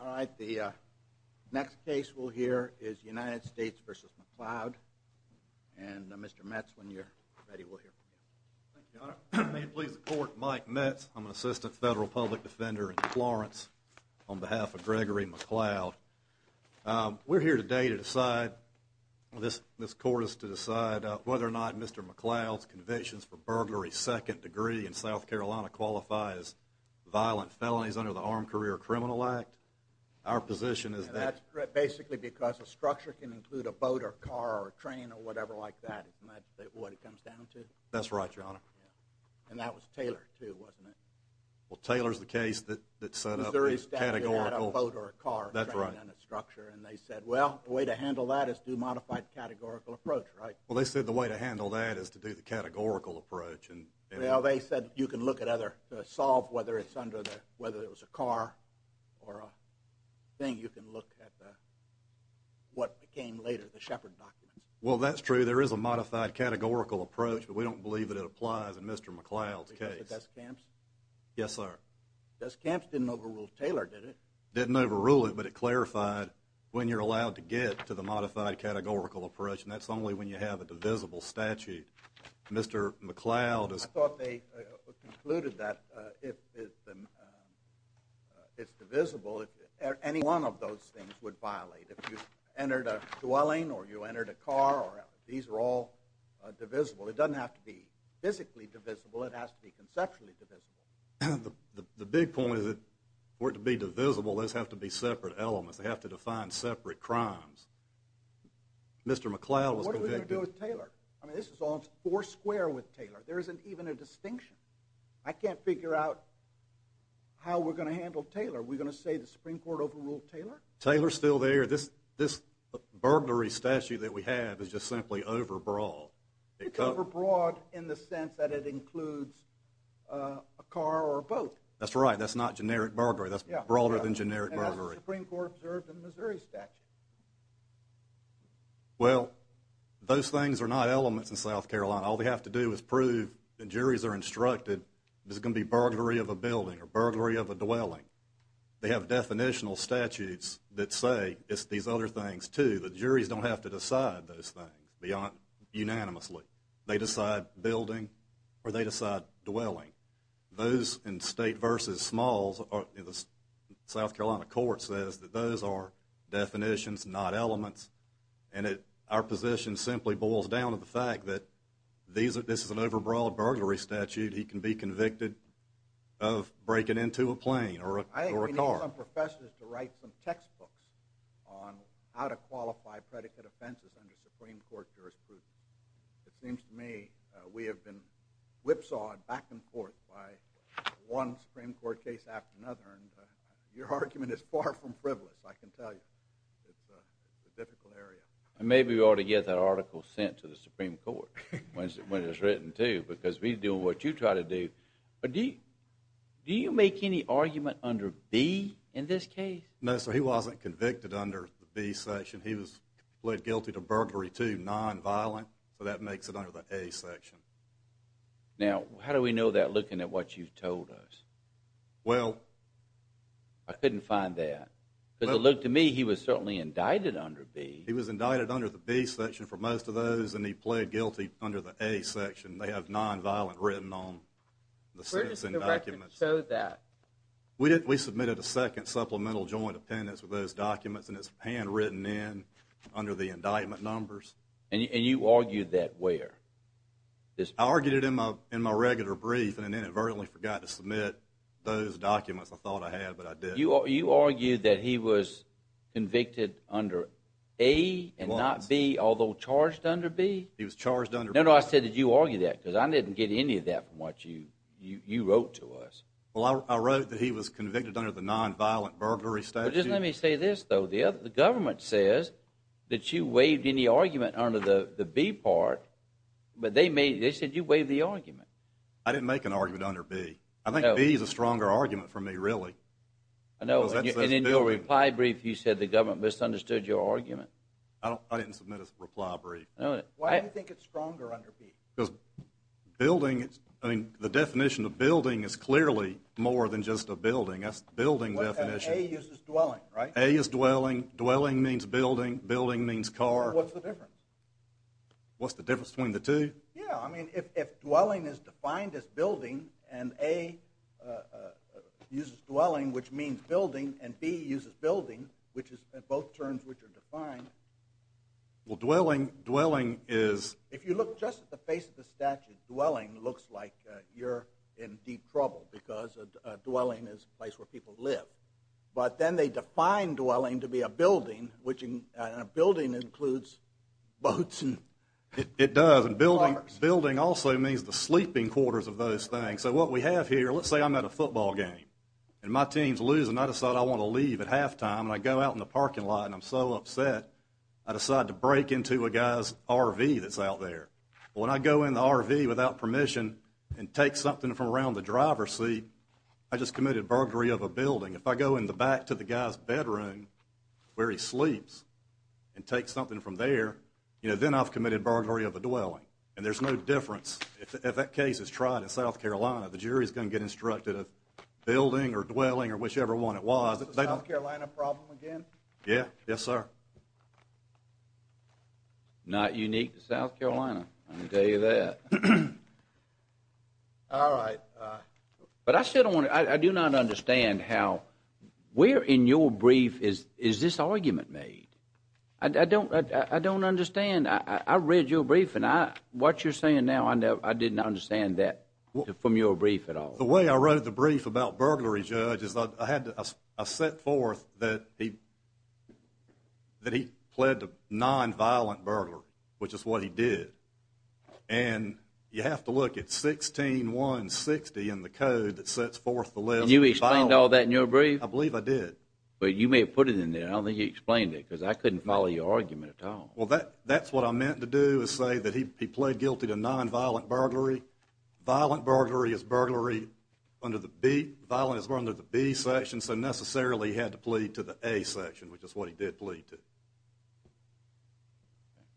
All right, the next case we'll hear is United States v. McLeod, and Mr. Metz, when you're ready, we'll hear from you. Thank you, Your Honor. May it please the Court, Mike Metz. I'm an assistant federal public defender in Florence on behalf of Gregory McLeod. We're here today to decide, this Court is to decide, whether or not Mr. McLeod's convictions for burglary second degree in South Carolina qualify as violent felonies under the Armed Career Criminal Act. Our position is that… And that's basically because a structure can include a boat or a car or a train or whatever like that, isn't that what it comes down to? That's right, Your Honor. And that was Taylor, too, wasn't it? Well, Taylor's the case that set up the categorical… Missouri's statute had a boat or a car… That's right. …in its structure, and they said, well, the way to handle that is to do a modified categorical approach, right? Well, they said the way to handle that is to do the categorical approach, and… Well, they said you can look at other… solve whether it's under the… whether it was a car or a thing. You can look at what came later, the Shepard documents. Well, that's true. There is a modified categorical approach, but we don't believe that it applies in Mr. McLeod's case. Because of Deskamps? Yes, sir. Deskamps didn't overrule Taylor, did it? Didn't overrule it, but it clarified when you're allowed to get to the modified categorical approach, and that's only when you have a divisible statute. Mr. McLeod is… I thought they concluded that if it's divisible, any one of those things would violate. If you entered a dwelling or you entered a car, these are all divisible. It doesn't have to be physically divisible. It has to be conceptually divisible. The big point is that for it to be divisible, those have to be separate elements. They have to define separate crimes. Mr. McLeod was convicted… What are we going to do with Taylor? I mean, this is all four square with Taylor. There isn't even a distinction. I can't figure out how we're going to handle Taylor. Are we going to say the Supreme Court overruled Taylor? Taylor's still there. This burglary statute that we have is just simply overbroad. It's overbroad in the sense that it includes a car or a boat. That's right. That's not generic burglary. That's broader than generic burglary. And that's what the Supreme Court observed in the Missouri statute. Well, those things are not elements in South Carolina. All they have to do is prove that juries are instructed this is going to be burglary of a building or burglary of a dwelling. They have definitional statutes that say it's these other things too. The juries don't have to decide those things unanimously. They decide building or they decide dwelling. Those in state versus smalls, the South Carolina court says that those are definitions, not elements. And our position simply boils down to the fact that this is an overbroad burglary statute. He can be convicted of breaking into a plane or a car. I think we need some professors to write some textbooks on how to qualify predicate offenses under Supreme Court jurisprudence. It seems to me we have been whipsawed back and forth by one Supreme Court case after another. Your argument is far from frivolous, I can tell you. It's a difficult area. Maybe we ought to get that article sent to the Supreme Court when it's written too because we do what you try to do. Do you make any argument under B in this case? No, sir. He wasn't convicted under the B section. He was plead guilty to burglary two, nonviolent. So that makes it under the A section. Now, how do we know that looking at what you've told us? Well... I couldn't find that. Because it looked to me he was certainly indicted under B. He was indicted under the B section for most of those, and he pled guilty under the A section. They have nonviolent written on the sentencing documents. Where does the record show that? We submitted a second supplemental joint appendix with those documents, and it's handwritten in under the indictment numbers. And you argued that where? I argued it in my regular brief and inadvertently forgot to submit those documents I thought I had, but I did. You argued that he was convicted under A and not B, although charged under B? He was charged under B. No, no, I said did you argue that? Because I didn't get any of that from what you wrote to us. Well, I wrote that he was convicted under the nonviolent burglary statute. Well, just let me say this, though. The government says that you waived any argument under the B part, but they said you waived the argument. I didn't make an argument under B. I think B is a stronger argument for me, really. I know, and in your reply brief you said the government misunderstood your argument. I didn't submit a reply brief. Why do you think it's stronger under B? Because the definition of building is clearly more than just a building. That's the building definition. A uses dwelling, right? A is dwelling. Dwelling means building. Building means car. What's the difference? What's the difference between the two? Yeah, I mean, if dwelling is defined as building and A uses dwelling, which means building, and B uses building, which is both terms which are defined. Well, dwelling is... If you look just at the face of the statute, dwelling looks like you're in deep trouble because dwelling is a place where people live. But then they define dwelling to be a building, and a building includes boats and cars. It does, and building also means the sleeping quarters of those things. So what we have here, let's say I'm at a football game and my team's losing. I decide I want to leave at halftime and I go out in the parking lot and I'm so upset I decide to break into a guy's RV that's out there. When I go in the RV without permission and take something from around the driver's seat, I just committed burglary of a building. If I go in the back to the guy's bedroom where he sleeps and take something from there, then I've committed burglary of a dwelling. And there's no difference if that case is tried in South Carolina. The jury's going to get instructed of building or dwelling or whichever one it was. Is this a South Carolina problem again? Yeah. Yes, sir. Not unique to South Carolina, I can tell you that. All right. But I do not understand how where in your brief is this argument made? I don't understand. I read your brief and what you're saying now, I didn't understand that from your brief at all. The way I wrote the brief about burglary, Judge, is I set forth that he pled to nonviolent burglary, which is what he did. And you have to look at 16160 in the code that sets forth the list. Did you explain all that in your brief? I believe I did. But you may have put it in there. I don't think you explained it because I couldn't follow your argument at all. Well, that's what I meant to do is say that he pled guilty to nonviolent burglary. Violent burglary is burglary under the B section, so necessarily he had to plead to the A section, which is what he did plead to.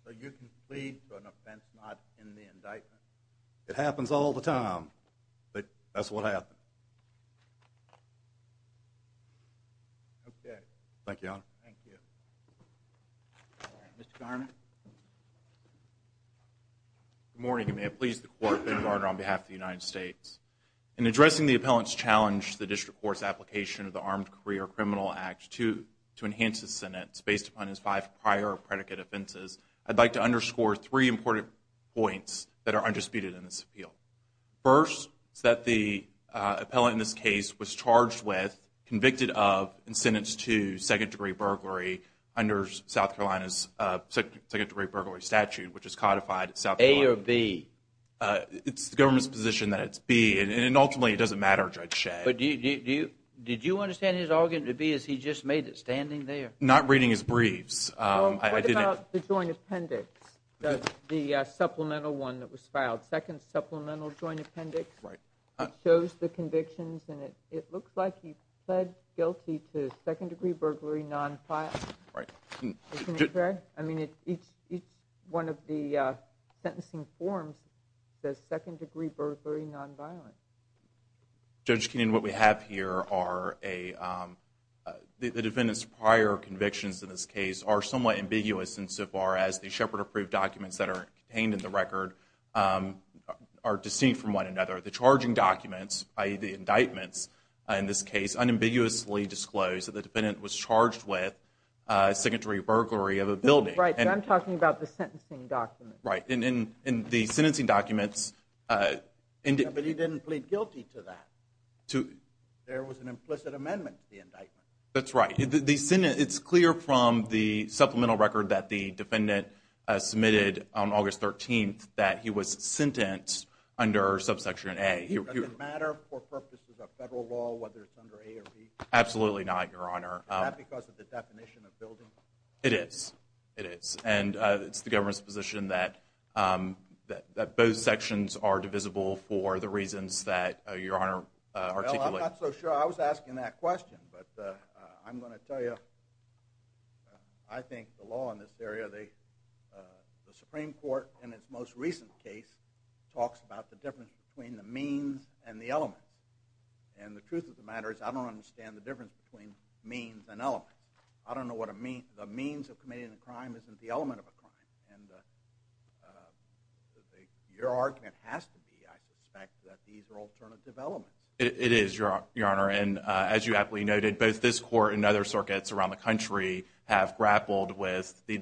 So you can plead for an offense not in the indictment? It happens all the time. That's what happened. Okay. Thank you, Your Honor. Thank you. All right. Mr. Garner? Good morning. You may have pleased the Court. Ben Garner on behalf of the United States. In addressing the appellant's challenge to the district court's application of the Armed Career Criminal Act to enhance the sentence based upon his five prior predicate offenses, I'd like to underscore three important points that are undisputed in this appeal. First is that the appellant in this case was charged with, convicted of, and sentenced to second-degree burglary under South Carolina's second-degree burglary statute, which is codified at South Carolina. A or B? It's the government's position that it's B. And ultimately, it doesn't matter, Judge Shad. Did you understand his argument to be as he just made it, standing there? Not reading his briefs. What about the joint appendix, the supplemental one that was filed, second supplemental joint appendix? Right. It shows the convictions, and it looks like he pled guilty to second-degree burglary nonviolence. Right. Isn't it fair? I mean, each one of the sentencing forms says second-degree burglary nonviolence. Judge Keenan, what we have here are the defendant's prior convictions in this case are somewhat ambiguous insofar as the Shepard-approved documents that are contained in the record are distinct from one another. The charging documents, i.e. the indictments in this case, unambiguously disclose that the defendant was charged with second-degree burglary of a building. Right. I'm talking about the sentencing documents. Right. In the sentencing documents. But he didn't plead guilty to that. There was an implicit amendment to the indictment. That's right. It's clear from the supplemental record that the defendant submitted on August 13th that he was sentenced under subsection A. Does it matter for purposes of federal law whether it's under A or B? Absolutely not, Your Honor. Is that because of the definition of building? It is. It is. And it's the government's position that both sections are divisible for the reasons that Your Honor articulated. Well, I'm not so sure. I was asking that question. But I'm going to tell you, I think the law in this area, the Supreme Court in its most recent case talks about the difference between the means and the elements. And the truth of the matter is I don't understand the difference between means and elements. I don't know what the means of committing a crime isn't the element of a crime. And your argument has to be, I suspect, that these are alternative elements. It is, Your Honor. And as you aptly noted, both this court and other circuits around the country have grappled with the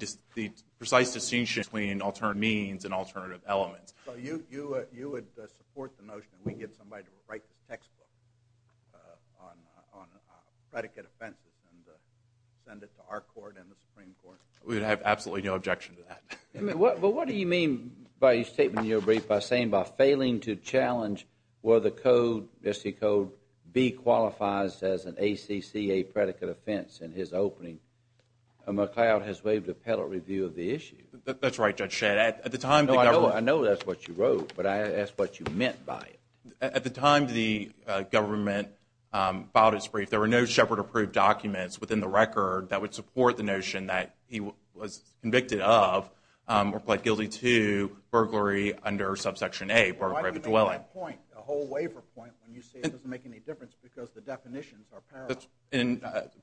precise distinction between alternate means and alternative elements. So you would support the notion that we get somebody to write this textbook on predicate offenses and send it to our court and the Supreme Court? We would have absolutely no objection to that. But what do you mean by your statement in your brief by saying by failing to challenge whether the code, SC code B qualifies as an ACCA predicate offense in his opening, McCloud has waived appellate review of the issue. That's right, Judge Shad. No, I know that's what you wrote, but I asked what you meant by it. At the time the government filed its brief, there were no Shepard-approved documents within the record that would support the notion that he was convicted of or pled guilty to burglary under subsection A, burglary of a dwelling. Why do you make that point, a whole waiver point, when you say it doesn't make any difference because the definitions are parallel? And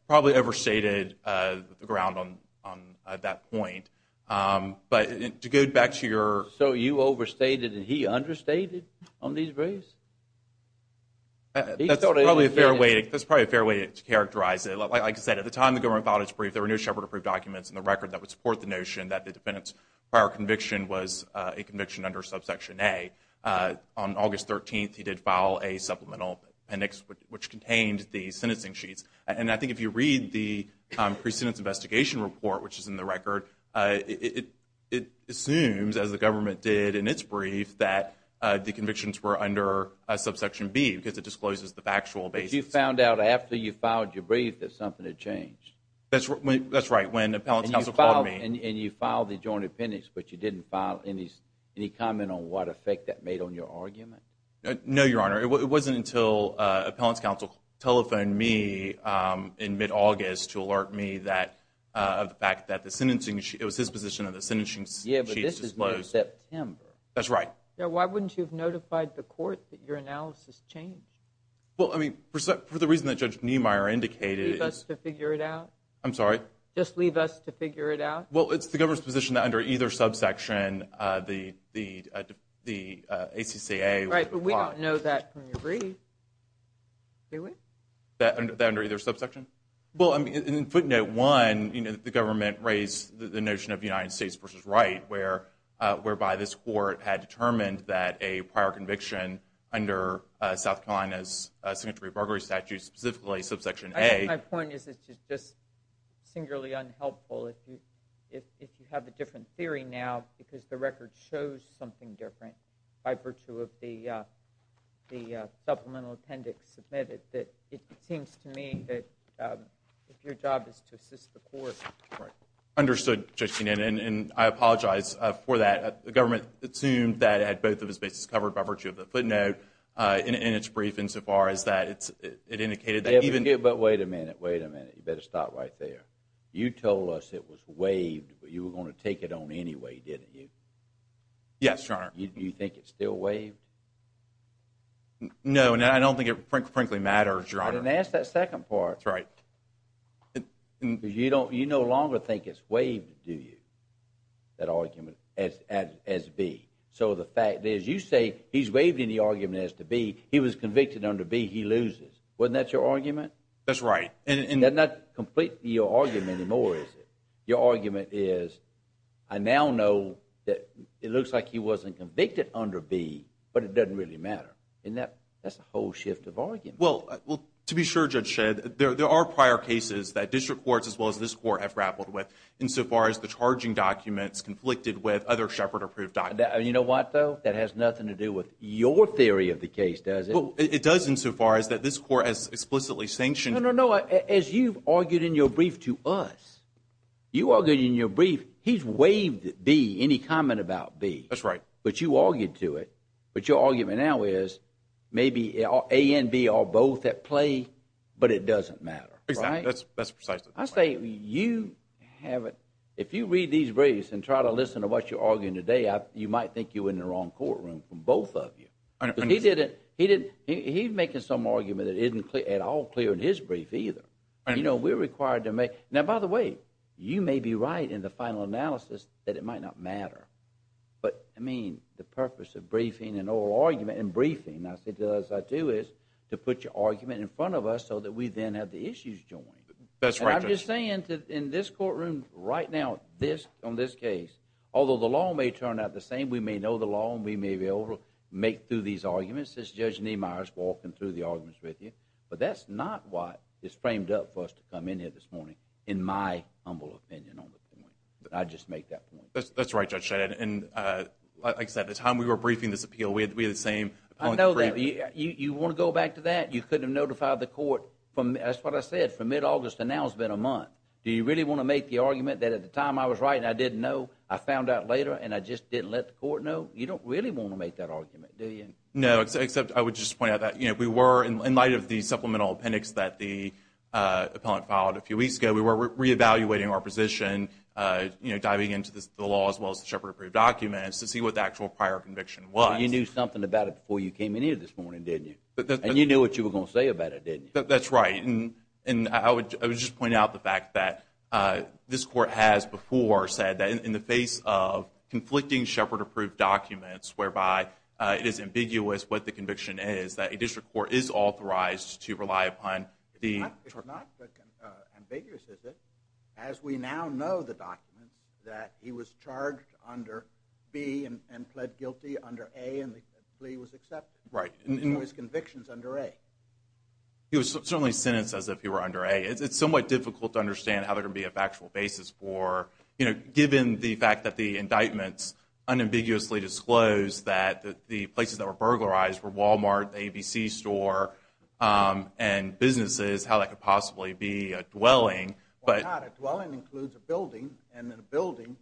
probably overstated the ground on that point. But to go back to your- So you overstated and he understated on these briefs? That's probably a fair way to characterize it. Like I said, at the time the government filed its brief, there were no Shepard-approved documents in the record that would support the notion that the defendant's prior conviction was a conviction under subsection A. On August 13th, he did file a supplemental appendix which contained the sentencing sheets. And I think if you read the precedence investigation report, which is in the record, it assumes, as the government did in its brief, that the convictions were under subsection B because it discloses the factual basis. But you found out after you filed your brief that something had changed? That's right, when the appellate counsel called me. And you filed the joint appendix, but you didn't file any comment on what effect that made on your argument? No, Your Honor. It wasn't until appellate counsel telephoned me in mid-August to alert me of the fact that the sentencing sheet- it was his position that the sentencing sheets disclosed- Yeah, but this is mid-September. That's right. Then why wouldn't you have notified the court that your analysis changed? Well, I mean, for the reason that Judge Niemeyer indicated- Just leave us to figure it out? I'm sorry? Just leave us to figure it out? Well, it's the government's position that under either subsection, the ACCA would apply. Right, but we don't know that from your brief. Do we? That under either subsection? Well, in footnote one, the government raised the notion of United States v. Wright, whereby this court had determined that a prior conviction under South Carolina's signatory burglary statute, specifically subsection A- My point is it's just singularly unhelpful if you have a different theory now because the record shows something different by virtue of the supplemental appendix submitted. It seems to me that if your job is to assist the court- Understood, Justine, and I apologize for that. The government assumed that it had both of its bases covered by virtue of the footnote in its brief insofar as that it indicated that even- Wait a minute, wait a minute. You better stop right there. You told us it was waived, but you were going to take it on anyway, didn't you? Yes, Your Honor. You think it's still waived? No, and I don't think it frankly matters, Your Honor. I didn't ask that second part. That's right. You no longer think it's waived, do you, that argument, as B? So the fact is you say he's waiving the argument as to B. He was convicted under B. He loses. Wasn't that your argument? That's right. That's not completely your argument anymore, is it? Your argument is I now know that it looks like he wasn't convicted under B, but it doesn't really matter. That's a whole shift of argument. Well, to be sure, Judge Shedd, there are prior cases that district courts as well as this court have grappled with insofar as the charging documents conflicted with other Shepard-approved documents. You know what, though? That has nothing to do with your theory of the case, does it? Well, it does insofar as that this court has explicitly sanctioned— No, no, no. As you've argued in your brief to us, you argued in your brief he's waived B, any comment about B. That's right. But you argued to it. But your argument now is maybe A and B are both at play, but it doesn't matter, right? Exactly. That's precisely the point. I say you haven't—if you read these briefs and try to listen to what you're arguing today, you might think you're in the wrong courtroom from both of you. Because he didn't—he's making some argument that isn't at all clear in his brief either. You know, we're required to make—now, by the way, you may be right in the final analysis that it might not matter. But, I mean, the purpose of briefing and oral argument and briefing, as it does, I do, is to put your argument in front of us so that we then have the issues joined. That's right, Judge. And I'm just saying in this courtroom right now, on this case, although the law may turn out the same, we may know the law and we may be able to make through these arguments, as Judge Niemeyer is walking through the arguments with you, but that's not what is framed up for us to come in here this morning, in my humble opinion on the point. I just make that point. That's right, Judge. And, like I said, at the time we were briefing this appeal, we had the same— I know that. You want to go back to that? You couldn't have notified the court from—that's what I said, from mid-August to now it's been a month. Do you really want to make the argument that at the time I was writing, I didn't know, I found out later, and I just didn't let the court know? You don't really want to make that argument, do you? No, except I would just point out that we were, in light of the supplemental appendix that the appellant filed a few weeks ago, we were reevaluating our position, diving into the law as well as the Shepherd-approved documents to see what the actual prior conviction was. You knew something about it before you came in here this morning, didn't you? And you knew what you were going to say about it, didn't you? That's right. And I would just point out the fact that this court has before said that in the face of conflicting Shepherd-approved documents, whereby it is ambiguous what the conviction is, that a district court is authorized to rely upon the— It's not ambiguous, is it? As we now know the documents, that he was charged under B and pled guilty under A, and the plea was accepted. Right. So his conviction is under A. He was certainly sentenced as if he were under A. It's somewhat difficult to understand how there can be a factual basis for, you know, given the fact that the indictments unambiguously disclosed that the places that were burglarized were Walmart, ABC store, and businesses, how that could possibly be a dwelling. Well, not a dwelling includes a building, and a building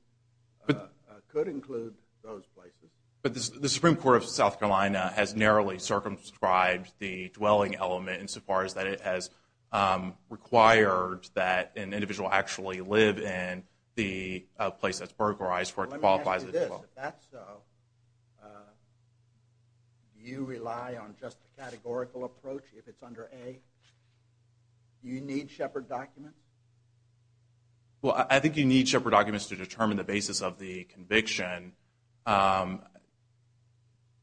could include those places. But the Supreme Court of South Carolina has narrowly circumscribed the dwelling element insofar as that it has required that an individual actually live in the place that's burglarized where it qualifies as a dwelling. Let me ask you this. If that's so, do you rely on just a categorical approach if it's under A? Do you need Shepherd documents? Well, I think you need Shepherd documents to determine the basis of the conviction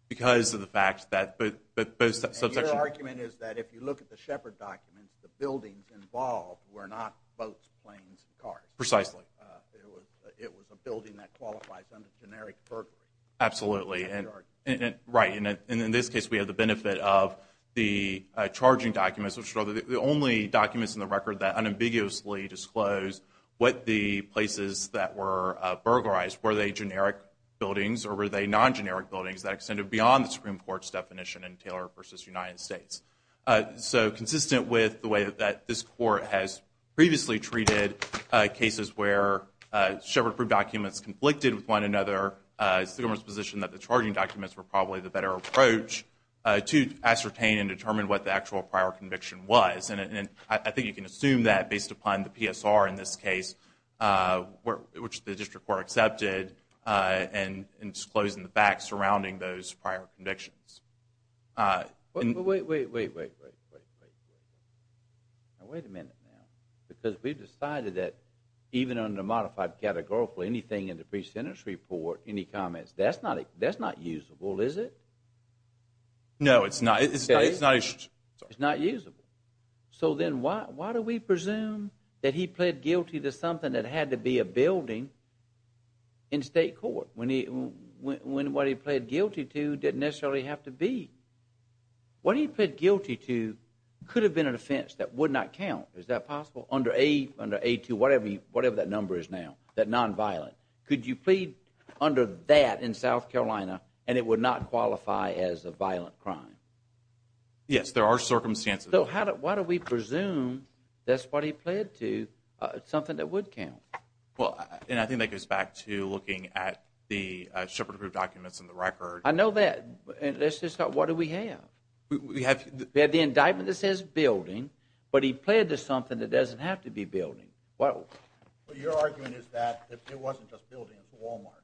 because of the fact that both subsections. And your argument is that if you look at the Shepherd documents, the buildings involved were not boats, planes, and cars. Precisely. It was a building that qualifies under generic burglary. Absolutely. Right. And in this case, we have the benefit of the charging documents, which are the only documents in the record that unambiguously disclose what the places that were burglarized. Were they generic buildings or were they non-generic buildings that extended beyond the Supreme Court's definition in Taylor v. United States? So consistent with the way that this court has previously treated cases where Shepherd documents conflicted with one another, it's the government's position that the charging documents were probably the better approach to ascertain and determine what the actual prior conviction was. And I think you can assume that based upon the PSR in this case, which the district court accepted, and disclosing the facts surrounding those prior convictions. Wait, wait, wait, wait, wait, wait, wait. Now wait a minute now. Because we've decided that even under modified categorical, anything in the pre-sentence report, any comments, that's not usable, is it? No, it's not. It's not usable. So then why do we presume that he pled guilty to something that had to be a building in state court when what he pled guilty to didn't necessarily have to be? What he pled guilty to could have been an offense that would not count. Is that possible? Under A2, whatever that number is now, that nonviolent, could you plead under that in South Carolina and it would not qualify as a violent crime? Yes, there are circumstances. So why do we presume that's what he pled to, something that would count? Well, and I think that goes back to looking at the Shepherd approved documents in the record. I know that. Let's just start. What do we have? We have the indictment that says building, but he pled to something that doesn't have to be a building. What you're arguing is that it wasn't just a building, it's a Walmart.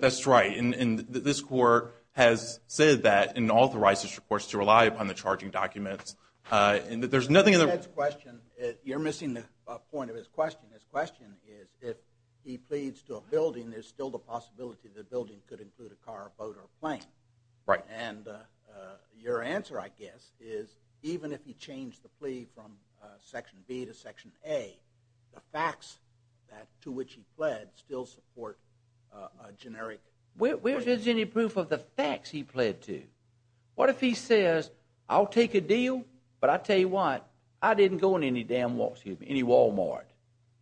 That's right. And this court has said that and authorized its reports to rely upon the charging documents. There's nothing in the- Ted's question, you're missing the point of his question. His question is if he pleads to a building, there's still the possibility the building could include a car, boat, or plane. Right. And your answer, I guess, is even if he changed the plea from Section B to Section A, the facts to which he pled still support a generic- Where's any proof of the facts he pled to? What if he says, I'll take a deal, but I'll tell you what, I didn't go in any damn Walmart,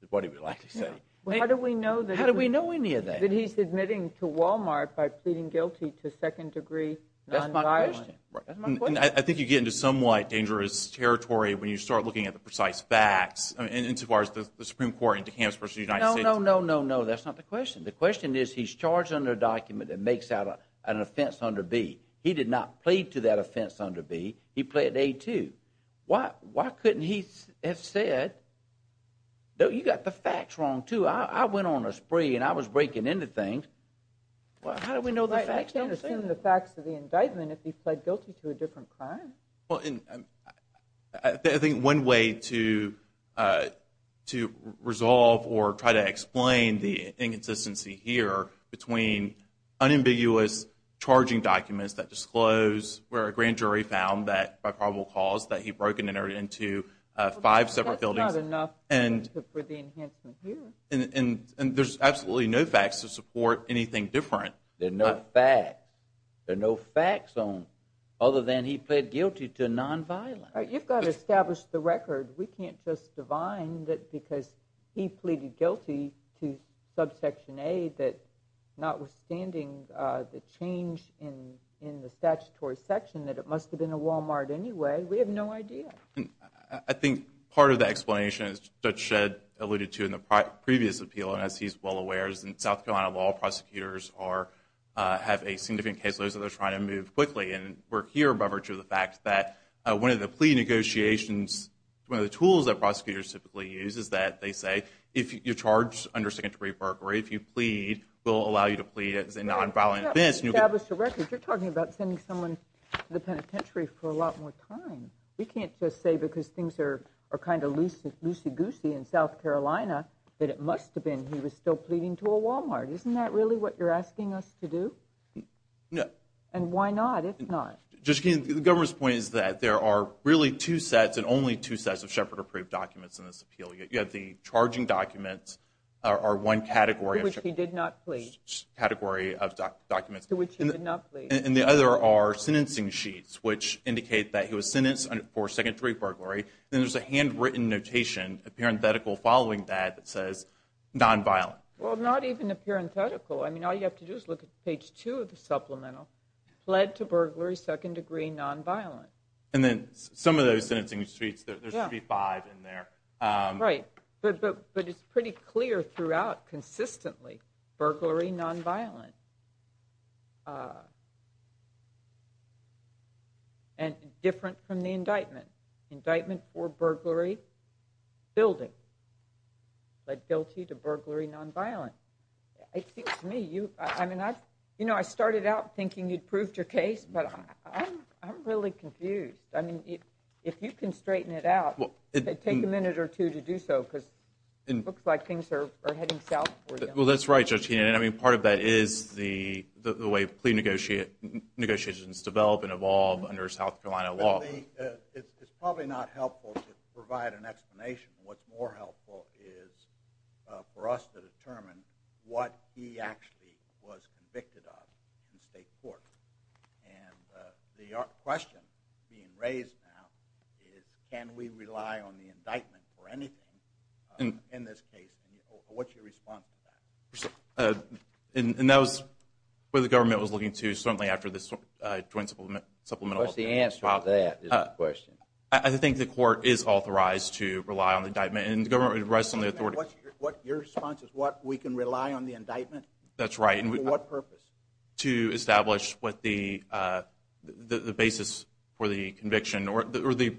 is what he would likely say. How do we know that- How do we know any of that? That he's admitting to Walmart by pleading guilty to second-degree non-violence. That's my question. That's my question. I think you get into somewhat dangerous territory when you start looking at the precise facts as far as the Supreme Court and DeKalb versus the United States. No, no, no, no, no, that's not the question. The question is he's charged under a document that makes out an offense under B. He did not plead to that offense under B. He pled A too. Why couldn't he have said, no, you've got the facts wrong too. I went on a spree and I was breaking into things. How do we know the facts don't say- I can't assume the facts of the indictment if he pled guilty to a different crime. I think one way to resolve or try to explain the inconsistency here between unambiguous charging documents that disclose where a grand jury found that by probable cause that he And there's absolutely no facts to support anything different. There are no facts. There are no facts other than he pled guilty to non-violence. You've got to establish the record. We can't just divine that because he pleaded guilty to subsection A that notwithstanding the change in the statutory section that it must have been a Walmart anyway. We have no idea. I think part of the explanation, as Judge Shedd alluded to in the previous appeal, and as he's well aware, is in South Carolina, law prosecutors have a significant caseload so they're trying to move quickly. And we're here by virtue of the fact that one of the plea negotiations, one of the tools that prosecutors typically use is that they say, if you're charged under second degree burglary, if you plead, we'll allow you to plead as a non-violent offense. You've got to establish the record. You're talking about sending someone to the penitentiary for a lot more time. We can't just say because things are kind of loosey-goosey in South Carolina that it must have been he was still pleading to a Walmart. Isn't that really what you're asking us to do? No. And why not, if not? Judge Keene, the government's point is that there are really two sets and only two sets of Shepard-approved documents in this appeal. You have the charging documents are one category. To which he did not plead. Category of documents. To which he did not plead. And the other are sentencing sheets, which indicate that he was sentenced for second degree burglary. Then there's a handwritten notation, a parenthetical following that, that says non-violent. Well, not even a parenthetical. I mean, all you have to do is look at page two of the supplemental. Plead to burglary, second degree, non-violent. And then some of those sentencing sheets, there should be five in there. Right. But it's pretty clear throughout consistently. Burglary, non-violent. And different from the indictment. Indictment for burglary, building. Led guilty to burglary, non-violent. To me, you know, I started out thinking you'd proved your case, but I'm really confused. I mean, if you can straighten it out, take a minute or two to do so, because it looks like things are heading south for you. Well, that's right, Judge Keenan. I mean, part of that is the way plea negotiations develop and evolve under South Carolina law. It's probably not helpful to provide an explanation. What's more helpful is for us to determine what he actually was convicted of in state court. And the question being raised now is, can we rely on the indictment for anything in this case? What's your response to that? And that was what the government was looking to, certainly after this joint supplemental. What's the answer to that is the question. I think the court is authorized to rely on the indictment, and the government would rest on the authority. Your response is what, we can rely on the indictment? That's right. For what purpose? To establish what the basis for the conviction or the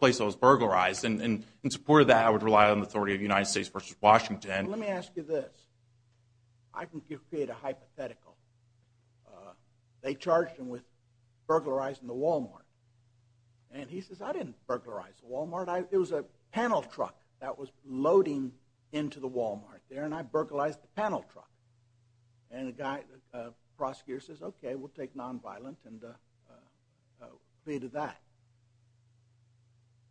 place I was burglarized. And in support of that, I would rely on the authority of the United States versus Washington. Let me ask you this. I can create a hypothetical. They charged him with burglarizing the Walmart. And he says, I didn't burglarize the Walmart. It was a panel truck that was loading into the Walmart there, and I burglarized the panel truck. And the prosecutor says, okay, we'll take nonviolent and plead to that.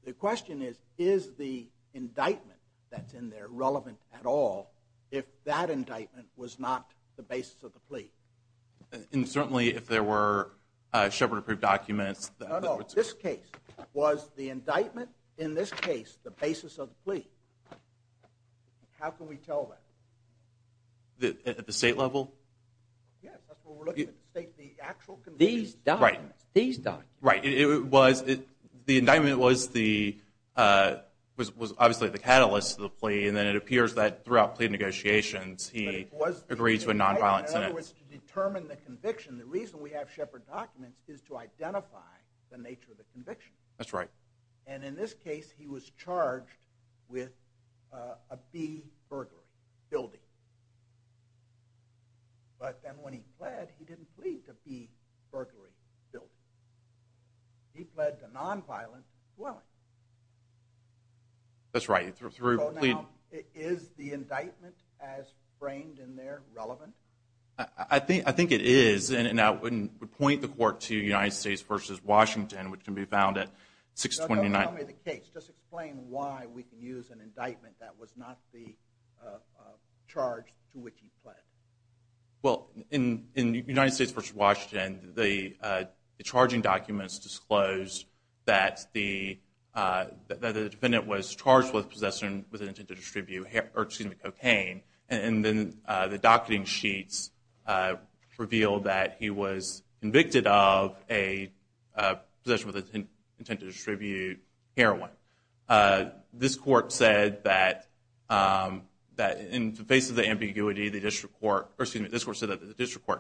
The question is, is the indictment that's in there relevant at all if that indictment was not the basis of the plea? And certainly if there were shepherd approved documents. No, no, this case. Was the indictment in this case the basis of the plea? How can we tell that? At the state level? Yes, that's what we're looking at. The actual conviction. These documents. Right. These documents. Right. The indictment was obviously the catalyst of the plea, and then it appears that throughout plea negotiations, he agreed to a nonviolent sentence. In other words, to determine the conviction, the reason we have shepherd documents is to identify the nature of the conviction. That's right. And in this case, he was charged with a B burglary, building. But then when he pled, he didn't plead to B burglary, building. He pled to nonviolent dwelling. That's right. So now, is the indictment as framed in there relevant? I think it is, and I wouldn't point the court to United States versus Washington, which can be found at 629. Don't tell me the case. Just explain why we can use an indictment that was not the charge to which he pled. Well, in United States versus Washington, the charging documents disclosed that the defendant was charged with possessing with an intent to distribute cocaine, and then the docketing sheets revealed that he was convicted of a possession with an intent to distribute heroin. This court said that in the face of the ambiguity, the district court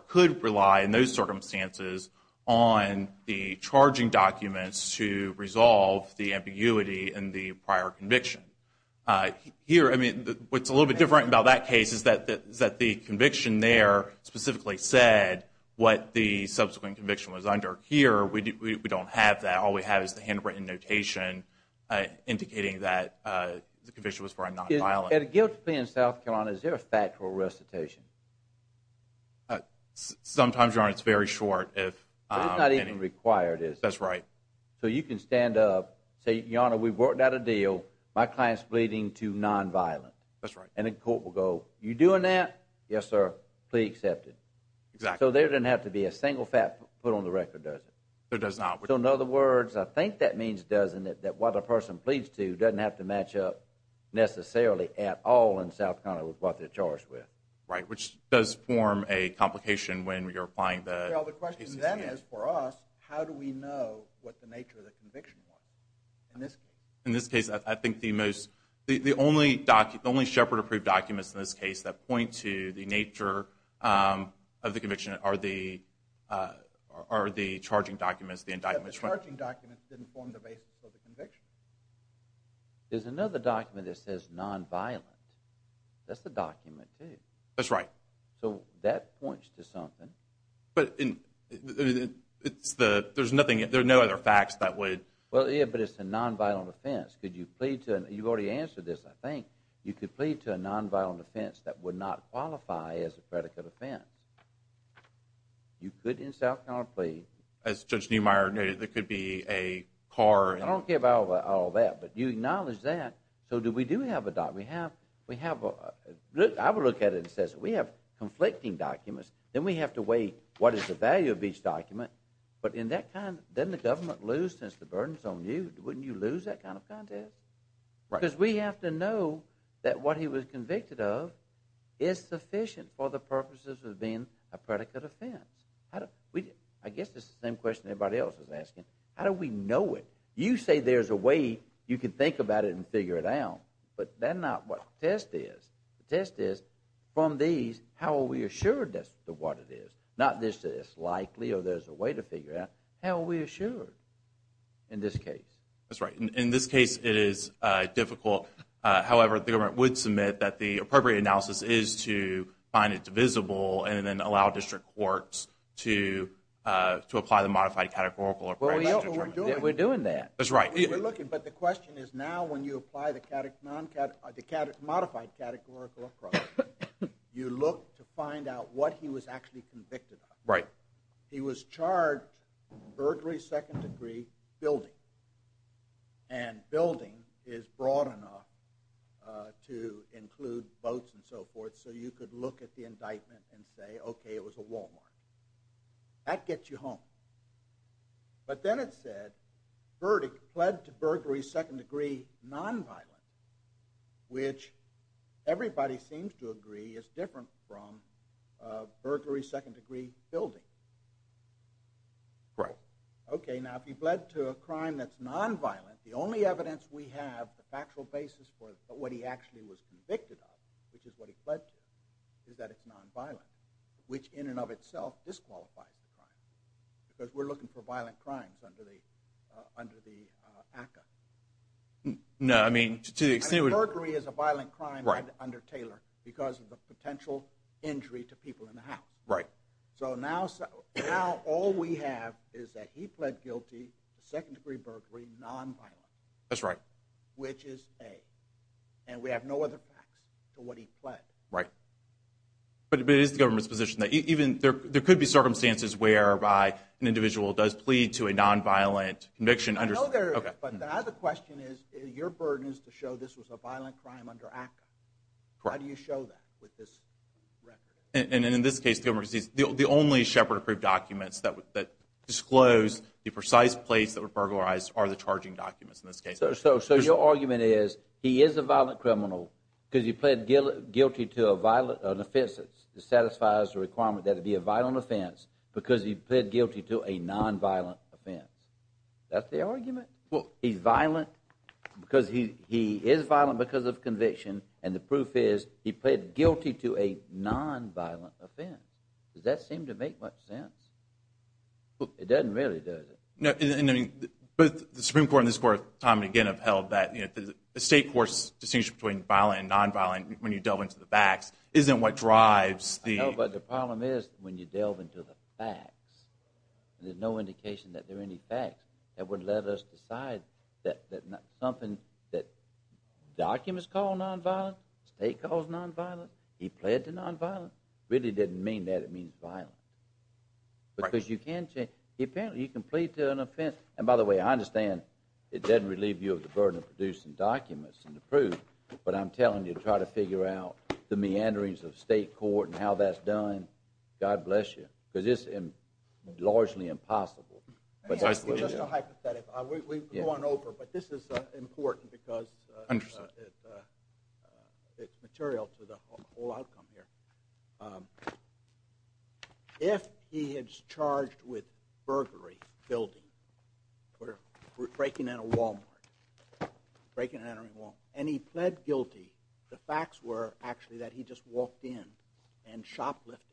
could rely in those circumstances on the charging documents to resolve the ambiguity in the prior conviction. Here, I mean, what's a little bit different about that case is that the conviction there specifically said what the subsequent conviction was under. Here, we don't have that. All we have is the handwritten notation indicating that the conviction was for a nonviolent. Is it a guilt to plead in South Carolina? Is there a factual recitation? Sometimes, Your Honor, it's very short. It's not even required, is it? That's right. So you can stand up, say, Your Honor, we've worked out a deal. My client's pleading to nonviolent. That's right. And the court will go, are you doing that? Yes, sir. Plea accepted. Exactly. So there doesn't have to be a single fact put on the record, does it? There does not. So in other words, I think that means, doesn't it, that what a person pleads to doesn't have to match up necessarily at all in South Carolina with what they're charged with. Right, which does form a complication when you're applying the cases. Well, the question then is, for us, how do we know what the nature of the conviction was in this case? In this case, I think the only Shepherd-approved documents in this case that point to the nature of the conviction are the charging documents, the indictments. But the charging documents didn't form the basis of the conviction. There's another document that says nonviolent. That's the document, too. That's right. So that points to something. But there's no other facts that would. Well, yeah, but it's a nonviolent offense. You've already answered this, I think. You could plead to a nonviolent offense that would not qualify as a predicate offense. You could in South Carolina plead. As Judge Niemeyer noted, it could be a car. I don't care about all that. But you acknowledge that. So do we do have a document? I would look at it and say, we have conflicting documents. Then we have to weigh what is the value of each document. But doesn't the government lose since the burden is on you? Wouldn't you lose that kind of contest? Because we have to know that what he was convicted of is sufficient for the purposes of being a predicate offense. I guess this is the same question everybody else is asking. How do we know it? You say there's a way you can think about it and figure it out. But that's not what the test is. The test is, from these, how are we assured that's what it is? Not this is likely or there's a way to figure it out. How are we assured in this case? That's right. In this case, it is difficult. However, the government would submit that the appropriate analysis is to find it divisible and then allow district courts to apply the modified categorical approach. We're doing that. That's right. We're looking. But the question is now when you apply the modified categorical approach, you look to find out what he was actually convicted of. Right. He was charged with burglary, second degree, building. And building is broad enough to include boats and so forth so you could look at the indictment and say, okay, it was a Walmart. That gets you home. But then it said, verdict, pled to burglary, second degree, nonviolent, which everybody seems to agree is different from burglary, second degree, building. Right. Okay. Now, if he pled to a crime that's nonviolent, the only evidence we have, the factual basis for what he actually was convicted of, which is what he pled to, is that it's nonviolent, which in and of itself disqualifies the crime because we're looking for violent crimes under the ACCA. No. I mean, to the extent it would. Burglary is a violent crime under Taylor because of the potential injury to people in the house. Right. So now all we have is that he pled guilty to second degree burglary, nonviolent. That's right. Which is A. And we have no other facts to what he pled. Right. But it is the government's position that even there could be circumstances whereby an individual does plead to a nonviolent conviction under. No, there isn't. Okay. But the other question is, your burden is to show this was a violent crime under ACCA. Correct. How do you show that with this record? And in this case, the only Shepard approved documents that disclose the precise place that were burglarized are the charging documents in this case. So your argument is he is a violent criminal because he pled guilty to an offense that satisfies the requirement that it be a violent offense because he pled guilty to a nonviolent offense. That's the argument? Well, he's violent because he is violent because of conviction, and the proof is he pled guilty to a nonviolent offense. Does that seem to make much sense? It doesn't really, does it? No, and I mean, both the Supreme Court and this Court, time and again, have held that the state courts' distinction between violent and nonviolent when you delve into the facts isn't what drives the. I know, but the problem is when you delve into the facts, there's no indication that there are any facts that would let us decide that something that documents call nonviolent, the state calls nonviolent, he pled to nonviolent, really doesn't mean that it means violent. Because you can plead to an offense. And by the way, I understand it doesn't relieve you of the burden of producing documents and the proof, but I'm telling you, try to figure out the meanderings of state court and how that's done. God bless you. Because it's largely impossible. Let me ask you just a hypothetical. We've gone over, but this is important because it's material to the whole outcome here. If he is charged with burglary, building, breaking in a Walmart, breaking and entering a Walmart, and he pled guilty, the facts were actually that he just walked in and shoplifted.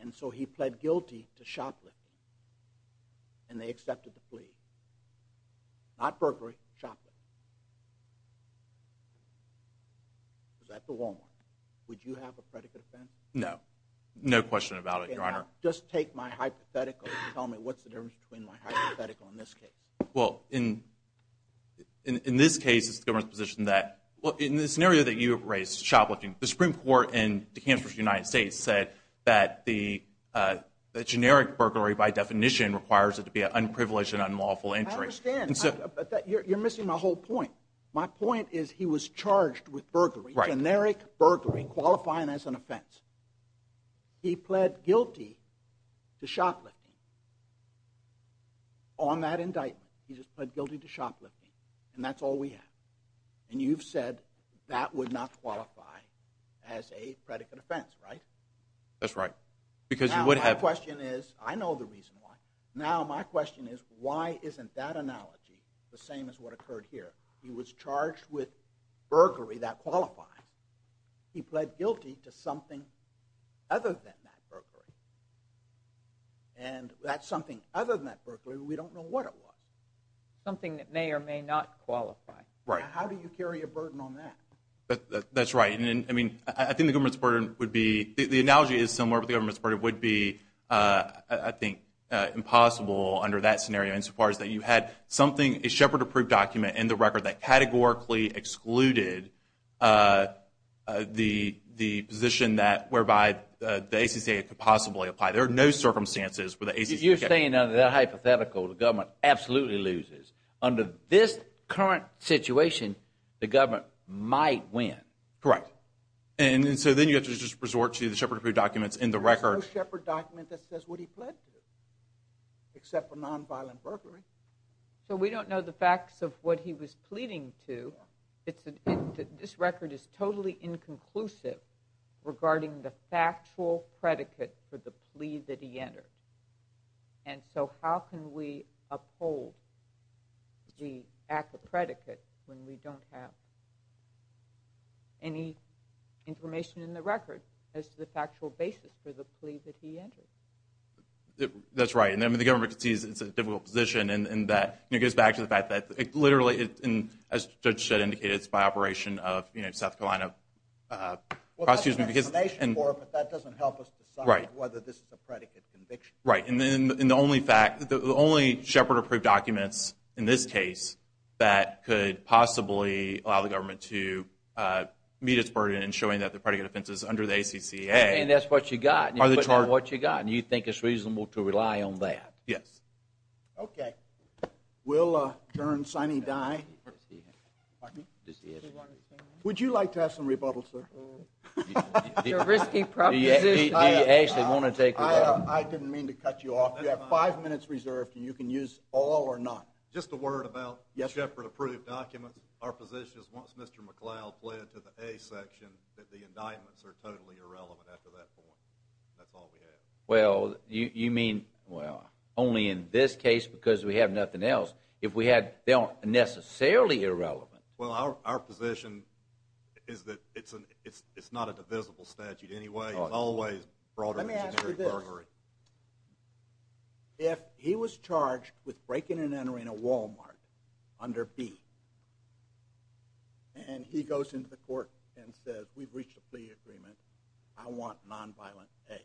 And so he pled guilty to shoplifting. And they accepted the plea. Not burglary, shoplifting. Was that the Walmart? Would you have a predicate offense? No. No question about it, Your Honor. Okay, now just take my hypothetical and tell me what's the difference between my hypothetical in this case. Well, in this case, it's the government's position that, well, in the scenario that you have raised, shoplifting, the Supreme Court in Kansas, United States, said that the generic burglary by definition requires it to be an unprivileged and unlawful entry. I understand, but you're missing my whole point. My point is he was charged with burglary, generic burglary, qualifying as an offense. He pled guilty to shoplifting on that indictment. He just pled guilty to shoplifting, and that's all we have. And you've said that would not qualify as a predicate offense, right? That's right, because you would have. Now my question is, I know the reason why. Now my question is, why isn't that analogy the same as what occurred here? He was charged with burglary that qualifies. He pled guilty to something other than that burglary. And that something other than that burglary, we don't know what it was. Something that may or may not qualify. Right. How do you carry a burden on that? That's right. I mean, I think the government's burden would be, the analogy is similar but the government's burden would be, I think, impossible under that scenario insofar as that you had something, a Shepard-approved document in the record that categorically excluded the position whereby the ACCA could possibly apply. There are no circumstances where the ACCA could apply. You're saying under that hypothetical, the government absolutely loses. Under this current situation, the government might win. Correct. And so then you have to just resort to the Shepard-approved documents in the record. There's no Shepard document that says what he pled to, except for nonviolent burglary. So we don't know the facts of what he was pleading to. This record is totally inconclusive regarding the factual predicate for the plea that he entered. And so how can we uphold the ACCA predicate when we don't have any information in the record as to the factual basis for the plea that he entered? That's right. I mean, the government sees it's a difficult position, and that goes back to the fact that literally, as Judge Shedd indicated, it's by operation of South Carolina prosecutors. Well, that's an explanation for it, but that doesn't help us decide whether this is a predicate conviction. Right. And the only Shepard-approved documents in this case that could possibly allow the government to meet its burden in showing that the predicate offense is under the ACCA are the charges. And that's what you got. You put down what you got, and you think it's reasonable to rely on that. Yes. Okay. We'll turn Sonny Dye. Pardon me? Would you like to have some rebuttal, sir? Your risky proposition. Do you actually want to take rebuttal? I didn't mean to cut you off. You have five minutes reserved, and you can use all or none. Just a word about Shepard-approved documents. Our position is once Mr. McLeod pled to the A section, that the indictments are totally irrelevant after that point. That's all we have. Well, you mean, well, only in this case because we have nothing else. If we had, they aren't necessarily irrelevant. Well, our position is that it's not a divisible statute anyway. It's always broader than Gregory. Let me ask you this. If he was charged with breaking and entering a Walmart under B, and he goes into the court and says, we've reached a plea agreement, I want nonviolent A,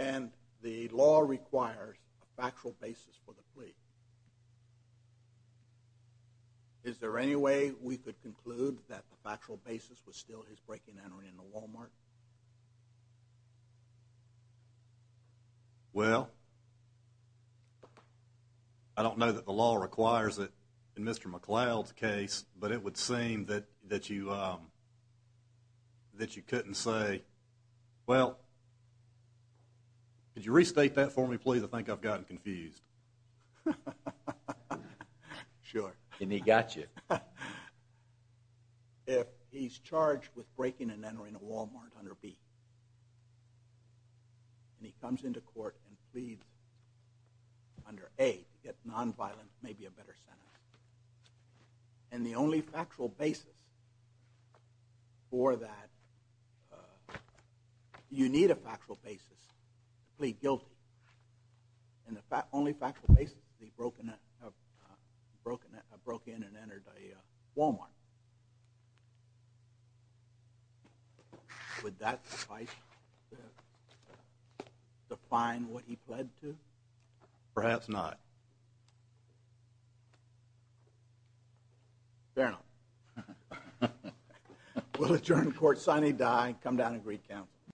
and the law requires a factual basis for the plea, is there any way we could conclude that the factual basis was still his breaking and entering into a Walmart? Well, I don't know that the law requires it in Mr. McLeod's case, but it would seem that you couldn't say, well, could you restate that for me, please? I think I've gotten confused. Sure. And he got you. If he's charged with breaking and entering a Walmart under B, and he comes into court and pleads under A, nonviolent may be a better sentence. And the only factual basis for that, you need a factual basis to plead guilty. And the only factual basis is he broke in and entered a Walmart. Would that suffice to define what he pled to? Perhaps not. Fair enough. We'll adjourn the court, sign a die, come down and greet counsel.